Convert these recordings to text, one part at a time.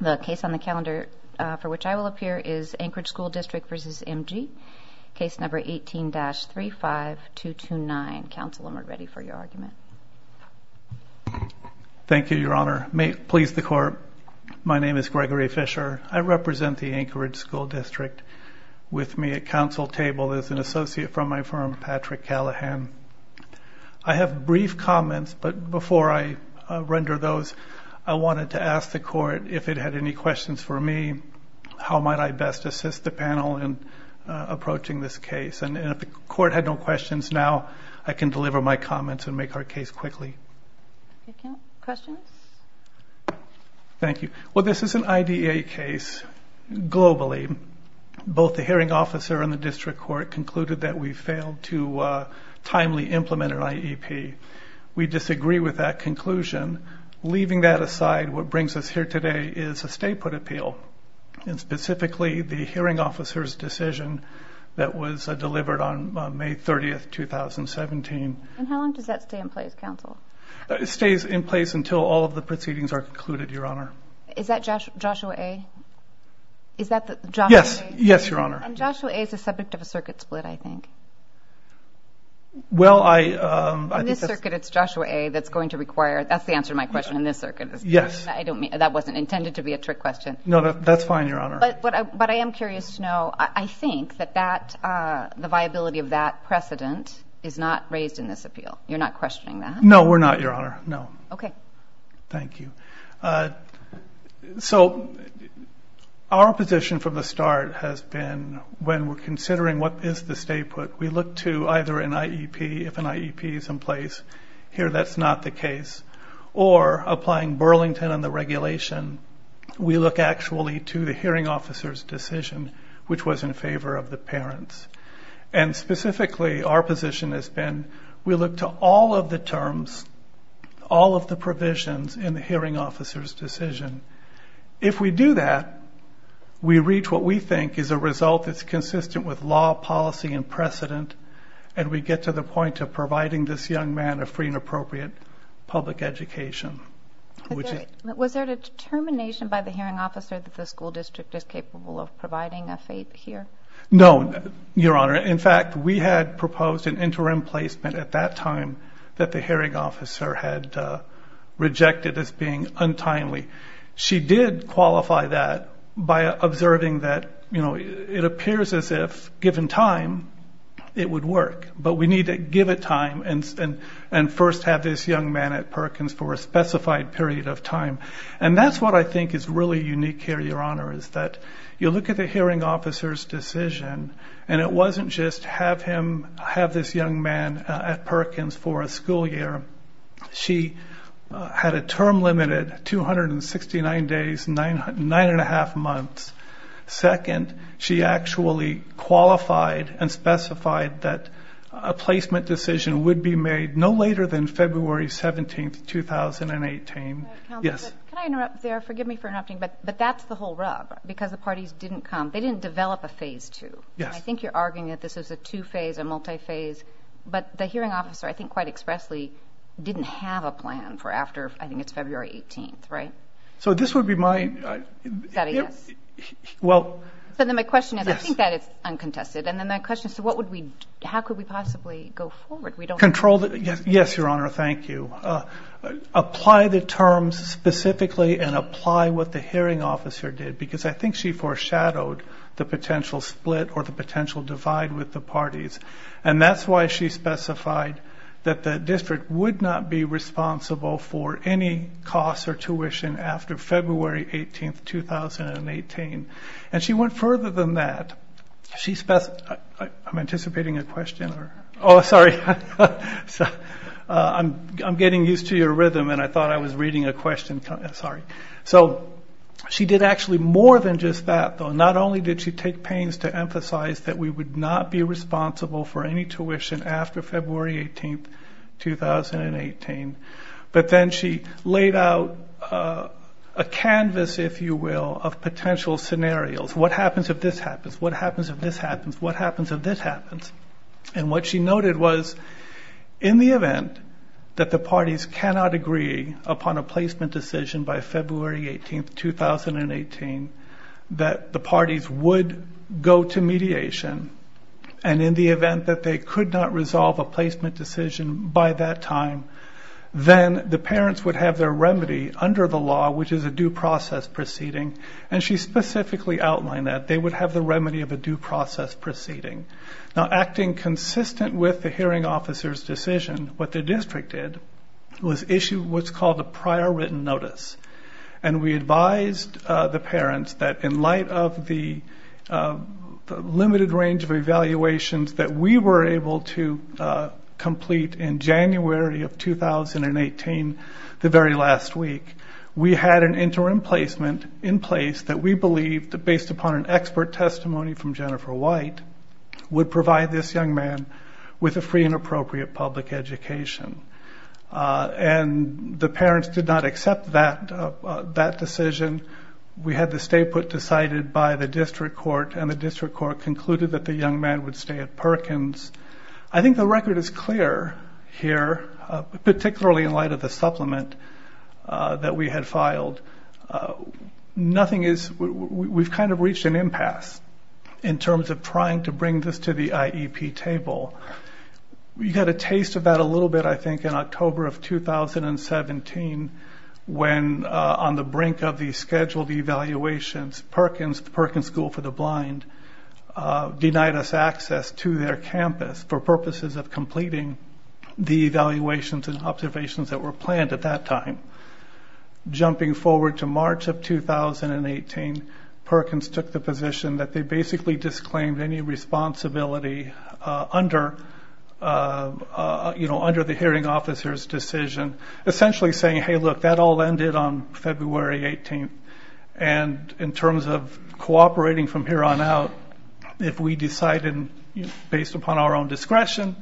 The case on the calendar for which I will appear is Anchorage School District v. M.G. Case No. 18-35229. Counsel, I'm ready for your argument. Thank you, Your Honor. May it please the Court, my name is Gregory Fisher. I represent the Anchorage School District. With me at counsel table is an associate from my firm, Patrick Callahan. I have brief comments, but before I render those, I wanted to ask the Court if it had any questions for me. How might I best assist the panel in approaching this case? And if the Court had no questions now, I can deliver my comments and make our case quickly. Questions? Thank you. Well, this is an IDEA case, globally. Both the hearing officer and the district court concluded that we failed to timely implement an IEP. We disagree with that conclusion. Leaving that aside, what brings us here today is a stay put appeal. Specifically, the hearing officer's decision that was delivered on May 30, 2017. And how long does that stay in place, counsel? It stays in place until all of the proceedings are concluded, Your Honor. Is that Joshua A.? Yes, Your Honor. Joshua A. is the subject of a circuit split, I think. Well, I... In this circuit, it's Joshua A. that's going to require... That's the answer to my question, in this circuit. Yes. I don't mean... That wasn't intended to be a trick question. No, that's fine, Your Honor. But I am curious to know, I think that the viability of that precedent is not raised in this appeal. You're not questioning that? No, we're not, Your Honor. No. Okay. Thank you. So, our position from the start has been, when we're considering what is the stay put, we look to either an IEP, if an IEP is in place. Here, that's not the case. Or, applying Burlington and the regulation, we look actually to the hearing officer's decision, which was in favor of the parents. And specifically, our position has been, we look to all of the terms, all of the provisions in the hearing officer's decision. If we do that, we reach what we think is a result that's consistent with law, policy, and precedent, and we get to the point of providing this young man a free and appropriate public education. Was there a determination by the hearing officer that the school district is capable of providing a fate here? No, Your Honor. In fact, we had proposed an interim placement at that time that the hearing officer had rejected as being untimely. She did qualify that by observing that, you know, it appears as if, given time, it would work. But we need to give it time and first have this young man at Perkins for a specified period of time. And that's what I think is really unique here, Your Honor, is that you look at the hearing officer's decision, and it wasn't just have him, have this young man at Perkins for a school year. She had a term limited, 269 days, 9 1⁄2 months. Second, she actually qualified and specified that a placement decision would be made no later than February 17, 2018. Yes? Can I interrupt there? Forgive me for interrupting. But that's the whole rub, because the parties didn't come. They didn't develop a phase 2. I think you're arguing that this is a two-phase, a multi-phase. But the hearing officer, I think quite expressly, didn't have a plan for after, I think it's February 18, right? So this would be my... Is that a yes? So then my question is, I think that is uncontested. And then my question is, so what would we, how could we possibly go forward? Yes, Your Honor, thank you. Apply the terms specifically and apply what the hearing officer did, because I think she foreshadowed the potential split or the potential divide with the parties. And that's why she specified that the district would not be responsible for any costs or tuition after February 18, 2018. And she went further than that. She specified... I'm anticipating a question. Oh, sorry. I'm getting used to your rhythm and I thought I was reading a question. Sorry. So she did actually more than just that, though. Not only did she take pains to emphasize that we would not be responsible for any tuition after February 18, 2018, but then she laid out a canvas, if you will, of potential scenarios. What happens if this happens? What happens if this happens? What happens if this happens? And what she noted was, in the event that the parties cannot agree upon a placement decision by February 18, 2018, that the parties would go to mediation, and in the event that they could not resolve a placement decision by that time, then the parents would have their remedy under the law, which is a due process proceeding. And she specifically outlined that. They would have the remedy of a due process proceeding. Now, acting consistent with the hearing officer's decision, what the district did was issue what's called a prior written notice. And we advised the parents that in light of the limited range of evaluations that we were able to complete in January of 2018, the very last week, we had an interim placement in place that we believed, based upon an expert testimony from Jennifer White, would provide this young man with a free and appropriate public education. And the parents did not accept that decision. We had the stay put decided by the district court, and the district court concluded that the young man would stay at Perkins. I think the record is clear here, particularly in light of the supplement that we had filed. We've kind of reached an impasse in terms of trying to bring this to the IEP table. We got a taste of that a little bit, I think, in October of 2017, when on the brink of the scheduled evaluations, Perkins, Perkins School for the Blind, denied us access to their campus for purposes of completing the evaluations and observations that were planned at that time. Jumping forward to March of 2018, Perkins took the position that they basically disclaimed any responsibility under the hearing officer's decision, essentially saying, hey, look, that all ended on February 18th. And in terms of cooperating from here on out, if we decide based upon our own discretion,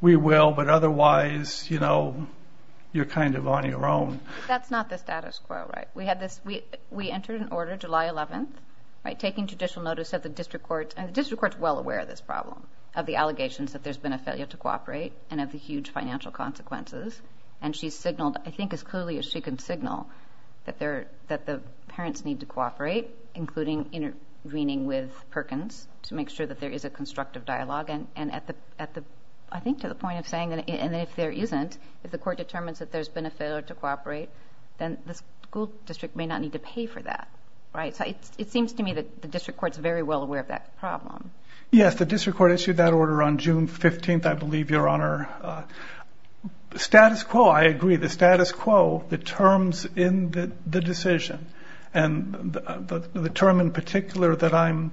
we will, but otherwise, you're kind of on your own. That's not the status quo, right? We entered an order July 11th, taking judicial notice of the district court, and the district court's well aware of this problem, of the allegations that there's been a failure to cooperate and of the huge financial consequences. And she signaled, I think as clearly as she can signal, that the parents need to cooperate, including intervening with Perkins to make sure that there is a constructive dialogue. I think to the point of saying, and if there isn't, if the court determines that there's been a failure to cooperate, then the school district may not need to pay for that, right? So it seems to me that the district court's very well aware of that problem. Yes, the district court issued that order on June 15th, I believe, Your Honor. Status quo, I agree. The status quo, the terms in the decision, and the term in particular that I'm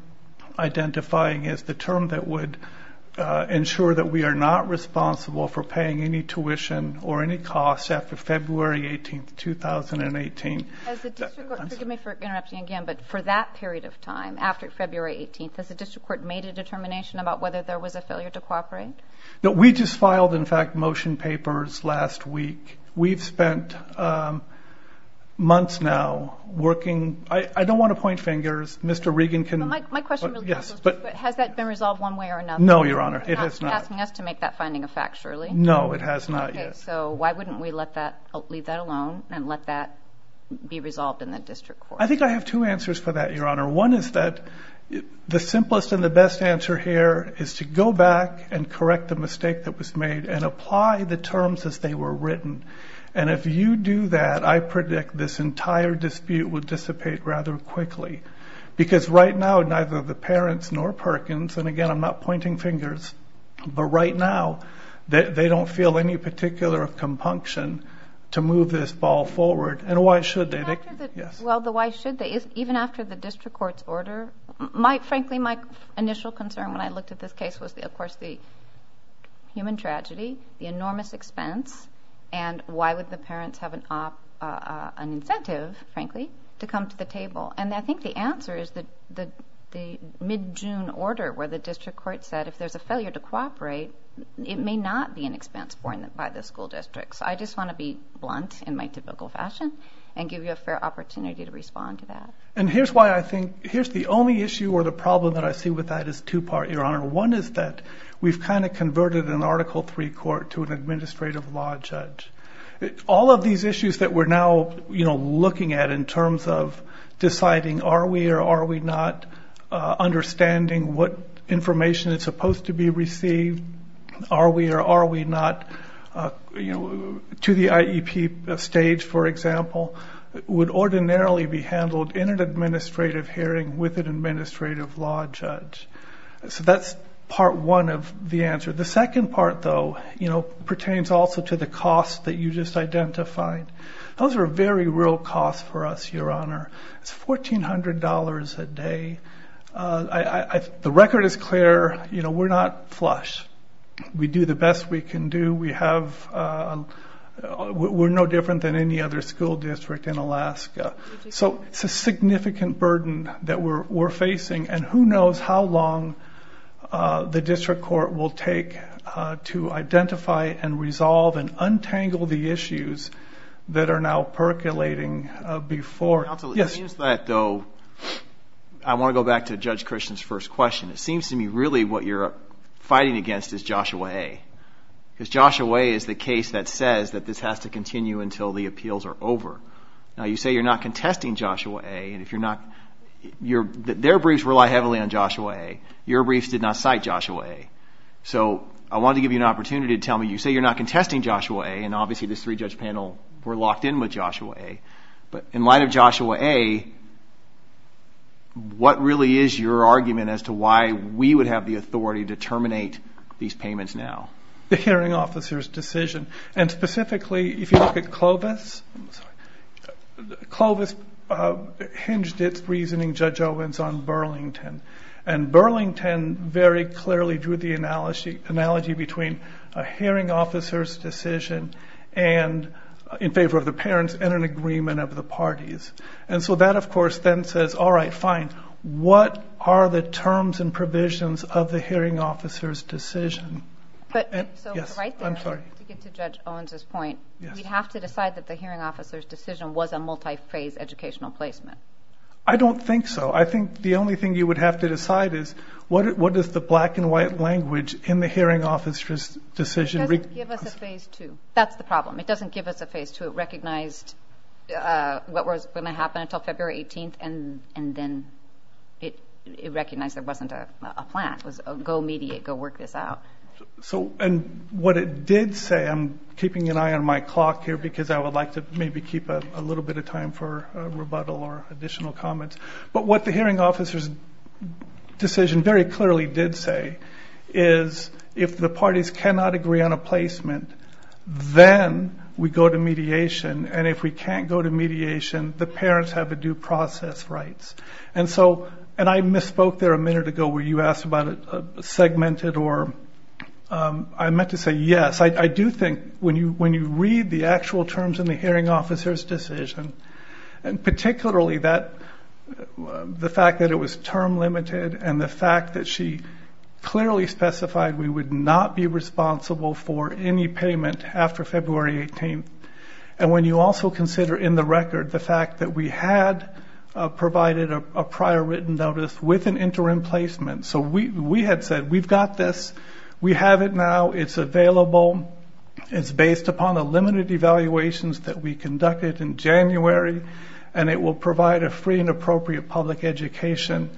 identifying is the term that would ensure that we are not responsible for paying any tuition or any costs after February 18th, 2018. As the district court, forgive me for interrupting again, but for that period of time, after February 18th, has the district court made a determination about whether there was a failure to cooperate? No, we just filed, in fact, motion papers last week. We've spent months now working. I don't want to point fingers. Mr. Regan can... My question really is, has that been resolved one way or another? No, Your Honor, it has not. Are you asking us to make that finding a fact, surely? No, it has not yet. Okay, so why wouldn't we leave that alone and let that be resolved in the district court? I think I have two answers for that, Your Honor. One is that the simplest and the best answer here is to go back and correct the mistake that was made and apply the terms as they were written. And if you do that, I predict this entire dispute will dissipate rather quickly because right now neither the parents nor Perkins, and again, I'm not pointing fingers, but right now they don't feel any particular compunction to move this ball forward. And why should they? Well, the why should they, even after the district court's order, frankly, my initial concern when I looked at this case was, of course, the human tragedy, the enormous expense, and why would the parents have an incentive, frankly, to come to the table? And I think the answer is the mid-June order where the district court said if there's a failure to cooperate, it may not be an expense borne by the school district. So I just want to be blunt in my typical fashion and give you a fair opportunity to respond to that. And here's why I think, here's the only issue or the problem that I see with that is two-part, Your Honor. One is that we've kind of converted an Article III court to an administrative law judge. All of these issues that we're now looking at in terms of deciding are we or are we not understanding what information is supposed to be received, are we or are we not, to the IEP stage, for example, would ordinarily be handled in an administrative hearing with an administrative law judge. So that's part one of the answer. The second part, though, pertains also to the cost that you just identified. Those are very real costs for us, Your Honor. It's $1,400 a day. The record is clear. We're not flush. We do the best we can do. We're no different than any other school district in Alaska. So it's a significant burden that we're facing, and who knows how long the district court will take to identify and resolve and untangle the issues that are now percolating before. Counsel, in addition to that, though, I want to go back to Judge Christian's first question. It seems to me really what you're fighting against is Joshua A. Because Joshua A. is the case that says that this has to continue until the appeals are over. Now, you say you're not contesting Joshua A. Their briefs rely heavily on Joshua A. Your briefs did not cite Joshua A. So I wanted to give you an opportunity to tell me, you say you're not contesting Joshua A. And obviously this three-judge panel, we're locked in with Joshua A. But in light of Joshua A., what really is your argument as to why we would have the authority to terminate these payments now? The hearing officer's decision. And specifically, if you look at Clovis, Clovis hinged its reasoning, Judge Owens, on Burlington. And Burlington very clearly drew the analogy between a hearing officer's decision in favor of the parents and an agreement of the parties. And so that, of course, then says, all right, fine. What are the terms and provisions of the hearing officer's decision? So right there, to get to Judge Owens' point, we'd have to decide that the hearing officer's decision was a multi-phase educational placement. I don't think so. I think the only thing you would have to decide is what is the black and white language in the hearing officer's decision. It doesn't give us a phase two. That's the problem. It doesn't give us a phase two. It recognized what was going to happen until February 18th, and then it recognized there wasn't a plan. It was a go mediate, go work this out. And what it did say, I'm keeping an eye on my clock here because I would like to maybe keep a little bit of time for rebuttal or additional comments. But what the hearing officer's decision very clearly did say is if the parties cannot agree on a placement, then we go to mediation. And if we can't go to mediation, the parents have a due process rights. And so, and I misspoke there a minute ago where you asked about it segmented or I meant to say yes. I do think when you read the actual terms in the hearing officer's decision, particularly the fact that it was term limited and the fact that she clearly specified we would not be responsible for any payment after February 18th, and when you also consider in the record the fact that we had provided a prior written notice with an interim placement. So we had said we've got this. We have it now. It's available. It's based upon the limited evaluations that we conducted in January, and it will provide a free and appropriate public education.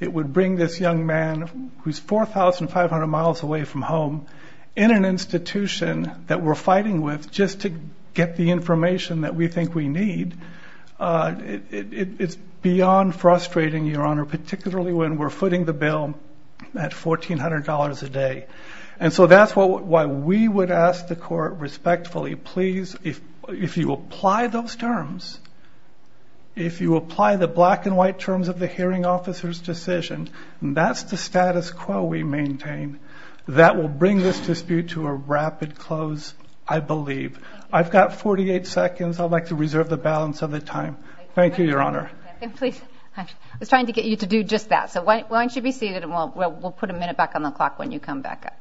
It would bring this young man who's 4,500 miles away from home in an institution that we're fighting with just to get the information that we think we need. It's beyond frustrating, Your Honor, particularly when we're footing the bill at $1,400 a day. And so that's why we would ask the court respectfully, please, if you apply those terms, if you apply the black and white terms of the hearing officer's decision, and that's the status quo we maintain, that will bring this dispute to a rapid close, I believe. I've got 48 seconds. I'd like to reserve the balance of the time. Thank you, Your Honor. I was trying to get you to do just that. So why don't you be seated, and we'll put a minute back on the clock when you come back up.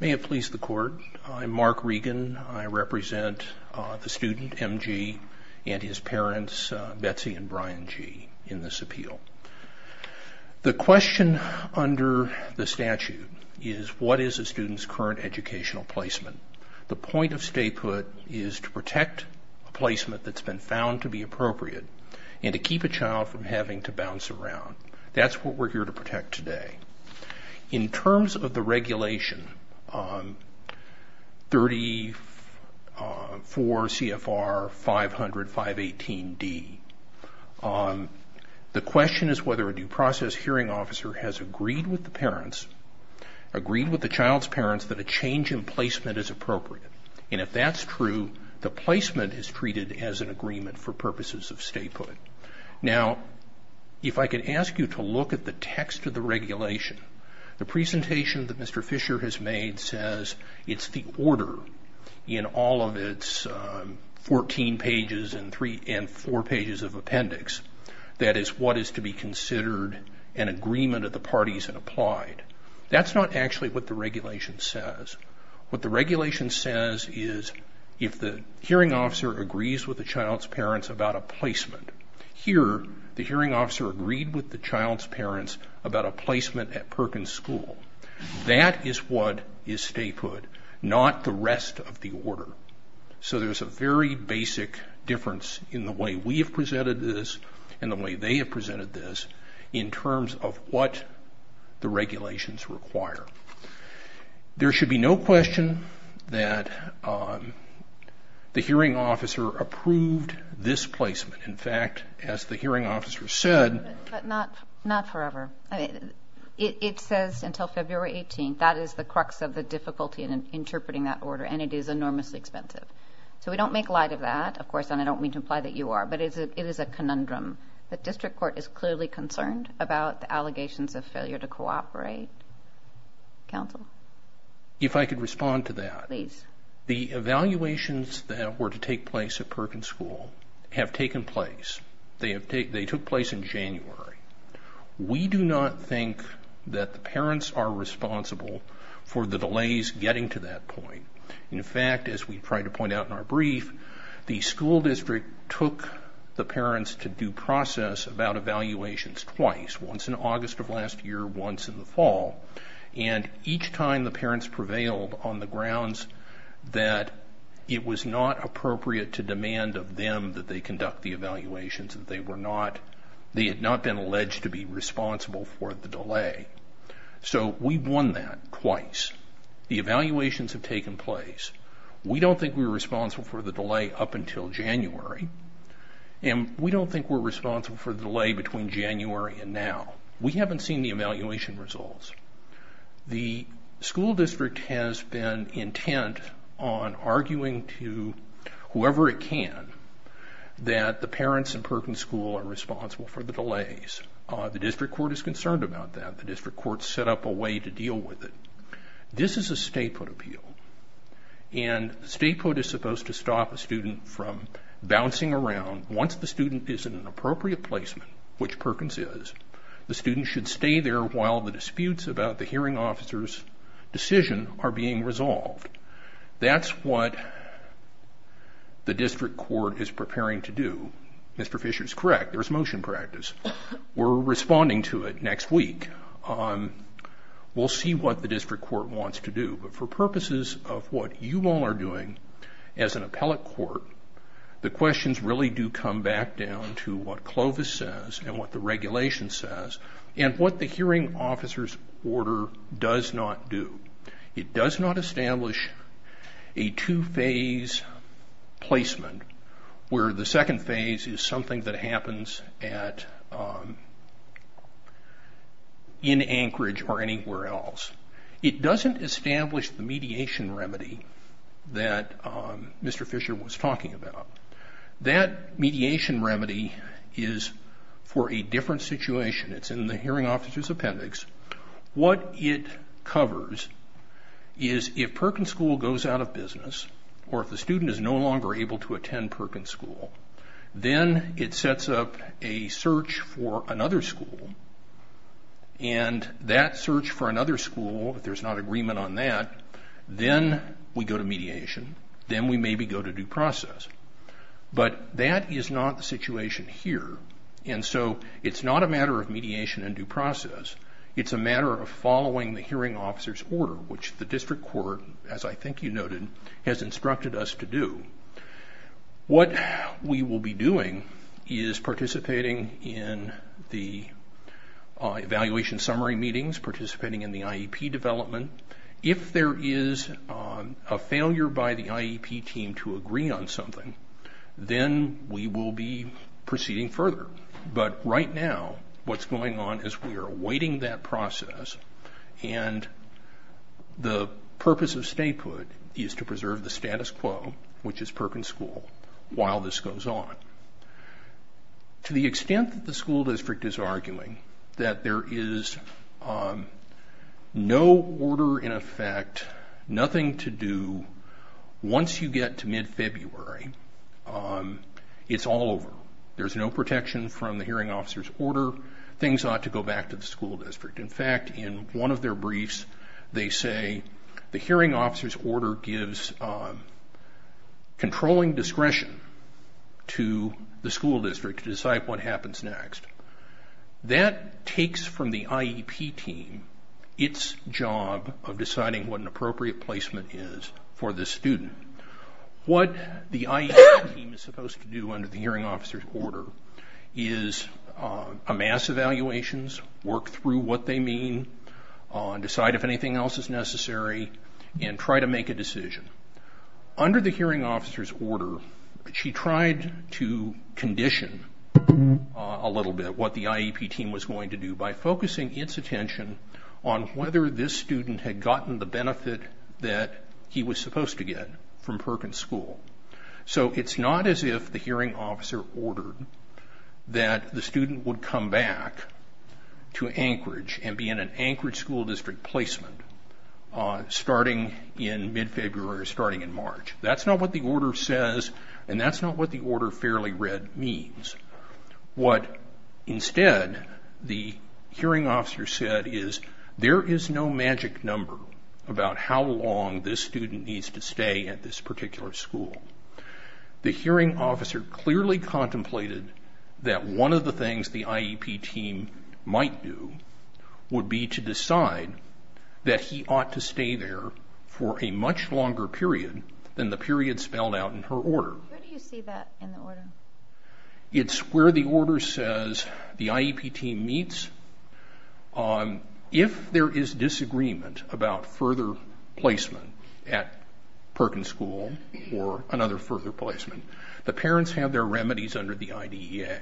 May it please the court. I'm Mark Regan. I represent the student, M.G., and his parents, Betsy and Brian G., in this appeal. The question under the statute is, what is a student's current educational placement? The point of statehood is to protect a placement that's been found to be appropriate and to keep a child from having to bounce around. That's what we're here to protect today. In terms of the regulation, 34 CFR 500-518D, the question is whether a due process hearing officer has agreed with the parents, agreed with the child's parents, that a change in placement is appropriate. And if that's true, the placement is treated as an agreement for purposes of statehood. Now, if I could ask you to look at the text of the regulation, the presentation that Mr. Fisher has made says it's the order in all of its 14 pages and 4 pages of appendix that is what is to be considered an agreement of the parties and applied. That's not actually what the regulation says. What the regulation says is if the hearing officer agrees with the child's parents about a placement, here the hearing officer agreed with the child's parents about a placement at Perkins School. That is what is statehood, not the rest of the order. So there's a very basic difference in the way we have presented this and the way they have presented this in terms of what the regulations require. There should be no question that the hearing officer approved this placement. In fact, as the hearing officer said... But not forever. It says until February 18th. That is the crux of the difficulty in interpreting that order, and it is enormously expensive. So we don't make light of that, of course, and I don't mean to imply that you are, but it is a conundrum. The district court is clearly concerned about the allegations of failure to cooperate. Counsel? If I could respond to that. Please. The evaluations that were to take place at Perkins School have taken place. They took place in January. We do not think that the parents are responsible for the delays getting to that point. In fact, as we tried to point out in our brief, the school district took the parents to due process about evaluations twice, once in August of last year, once in the fall, and each time the parents prevailed on the grounds that it was not appropriate to demand of them that they conduct the evaluations, that they had not been alleged to be responsible for the delay. So we won that twice. The evaluations have taken place. We don't think we're responsible for the delay up until January, and we don't think we're responsible for the delay between January and now. We haven't seen the evaluation results. The school district has been intent on arguing to whoever it can that the parents in Perkins School are responsible for the delays. The district court is concerned about that. The district court set up a way to deal with it. This is a statehood appeal, and statehood is supposed to stop a student from bouncing around. Once the student is in an appropriate placement, which Perkins is, the student should stay there while the disputes about the hearing officer's decision are being resolved. That's what the district court is preparing to do. Mr. Fisher is correct. There's motion practice. We're responding to it next week. We'll see what the district court wants to do. For purposes of what you all are doing as an appellate court, the questions really do come back down to what Clovis says and what the regulation says and what the hearing officer's order does not do. It does not establish a two-phase placement where the second phase is something that happens in Anchorage or anywhere else. It doesn't establish the mediation remedy that Mr. Fisher was talking about. That mediation remedy is for a different situation. It's in the hearing officer's appendix. What it covers is if Perkins School goes out of business or if the student is no longer able to attend Perkins School, then it sets up a search for another school. That search for another school, if there's not agreement on that, then we go to mediation, then we maybe go to due process. But that is not the situation here. It's not a matter of mediation and due process. It's a matter of following the hearing officer's order, which the district court, as I think you noted, has instructed us to do. What we will be doing is participating in the evaluation summary meetings, participating in the IEP development. If there is a failure by the IEP team to agree on something, then we will be proceeding further. But right now what's going on is we are awaiting that process and the purpose of statehood is to preserve the status quo, which is Perkins School, while this goes on. To the extent that the school district is arguing that there is no order in effect, nothing to do, once you get to mid-February, it's all over. There's no protection from the hearing officer's order. Things ought to go back to the school district. In fact, in one of their briefs they say the hearing officer's order gives controlling discretion to the school district to decide what happens next. That takes from the IEP team its job of deciding what an appropriate placement is for this student. What the IEP team is supposed to do under the hearing officer's order is amass evaluations, work through what they mean, decide if anything else is necessary, and try to make a decision. Under the hearing officer's order, she tried to condition a little bit what the IEP team was going to do by focusing its attention on whether this student had gotten the benefit that he was supposed to get from Perkins School. So it's not as if the hearing officer ordered that the student would come back to Anchorage and be in an Anchorage school district placement starting in mid-February or starting in March. That's not what the order says, and that's not what the order fairly read means. What instead the hearing officer said is there is no magic number about how long this student needs to stay at this particular school. The hearing officer clearly contemplated that one of the things the IEP team might do would be to decide that he ought to stay there for a much longer period than the period spelled out in her order. Where do you see that in the order? It's where the order says the IEP team meets. If there is disagreement about further placement at Perkins School or another further placement, the parents have their remedies under the IDEA.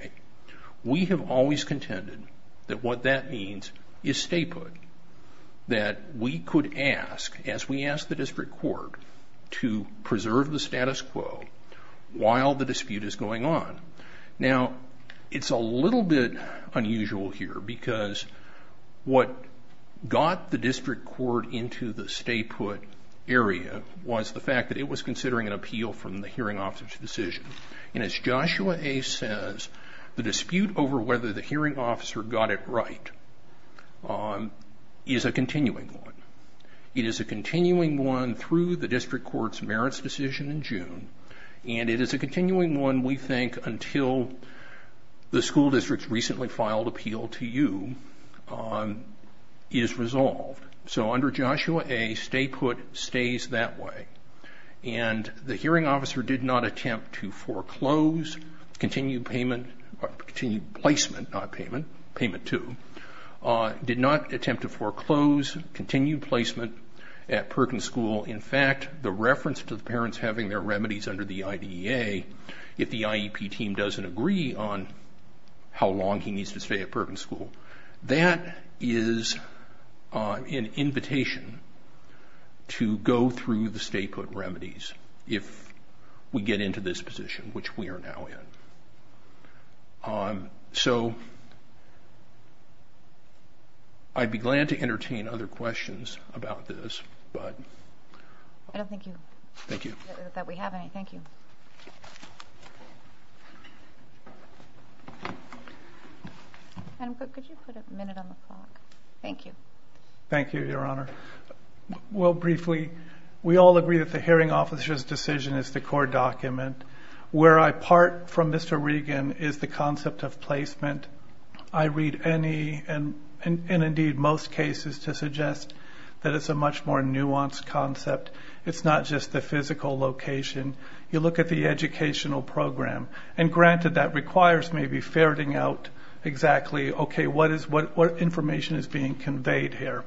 We have always contended that what that means is stay put, that we could ask, as we ask the district court, to preserve the status quo while the dispute is going on. Now, it's a little bit unusual here because what got the district court into the stay put area was the fact that it was considering an appeal from the hearing officer's decision. As Joshua A. says, the dispute over whether the hearing officer got it right is a continuing one. It is a continuing one through the district court's merits decision in June, and it is a continuing one, we think, until the school district's recently filed appeal to you is resolved. So under Joshua A., stay put stays that way. And the hearing officer did not attempt to foreclose, continued placement, not payment, payment two, did not attempt to foreclose continued placement at Perkins School. In fact, the reference to the parents having their remedies under the IDEA, if the IEP team doesn't agree on how long he needs to stay at Perkins School, that is an invitation to go through the stay put remedies if we get into this position, which we are now in. So I'd be glad to entertain other questions about this, but... I don't think that we have any. Thank you. Madam Clerk, could you put a minute on the clock? Thank you. Thank you, Your Honor. Well, briefly, we all agree that the hearing officer's decision is the core document. Where I part from Mr. Regan is the concept of placement. I read any and indeed most cases to suggest that it's a much more nuanced concept. It's not just the physical location. You look at the educational program. And granted, that requires maybe ferreting out exactly, okay, what information is being conveyed here.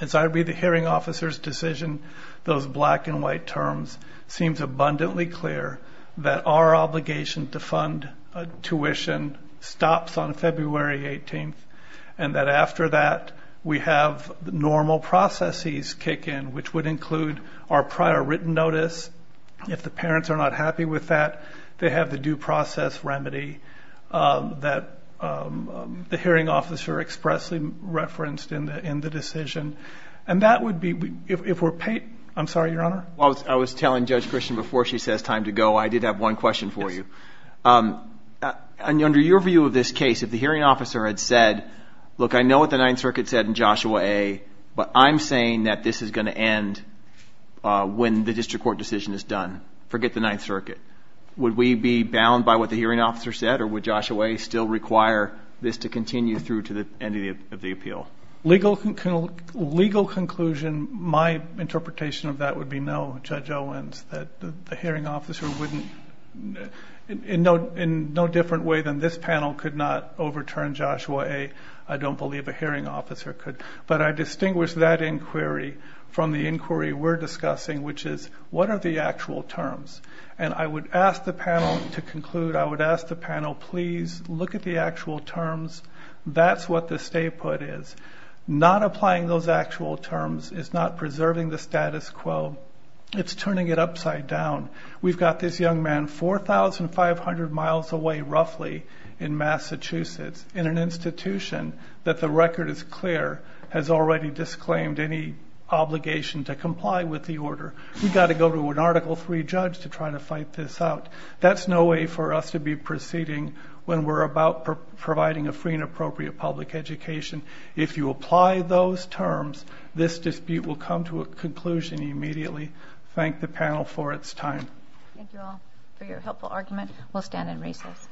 As I read the hearing officer's decision, those black and white terms, it seems abundantly clear that our obligation to fund tuition stops on February 18th and that after that we have normal processes kick in, which would include our prior written notice. If the parents are not happy with that, they have the due process remedy that the hearing officer expressly referenced in the decision. And that would be, if we're paid, I'm sorry, Your Honor? I was telling Judge Christian before she says time to go, I did have one question for you. Under your view of this case, if the hearing officer had said, look, I know what the Ninth Circuit said in Joshua A., but I'm saying that this is going to end when the district court decision is done. Forget the Ninth Circuit. Would we be bound by what the hearing officer said or would Joshua A. still require this to continue through to the end of the appeal? Legal conclusion, my interpretation of that would be no, Judge Owens, that the hearing officer wouldn't, in no different way than this panel, could not overturn Joshua A. I don't believe a hearing officer could. But I distinguish that inquiry from the inquiry we're discussing, which is what are the actual terms. And I would ask the panel to conclude, I would ask the panel, please look at the actual terms. That's what the stay put is. Not applying those actual terms is not preserving the status quo. It's turning it upside down. We've got this young man 4,500 miles away roughly in Massachusetts in an institution that the record is clear has already disclaimed any obligation to comply with the order. We've got to go to an Article III judge to try to fight this out. That's no way for us to be proceeding when we're about providing a free and appropriate public education. If you apply those terms, this dispute will come to a conclusion immediately. Thank the panel for its time. Thank you all for your helpful argument. We'll stand and recess.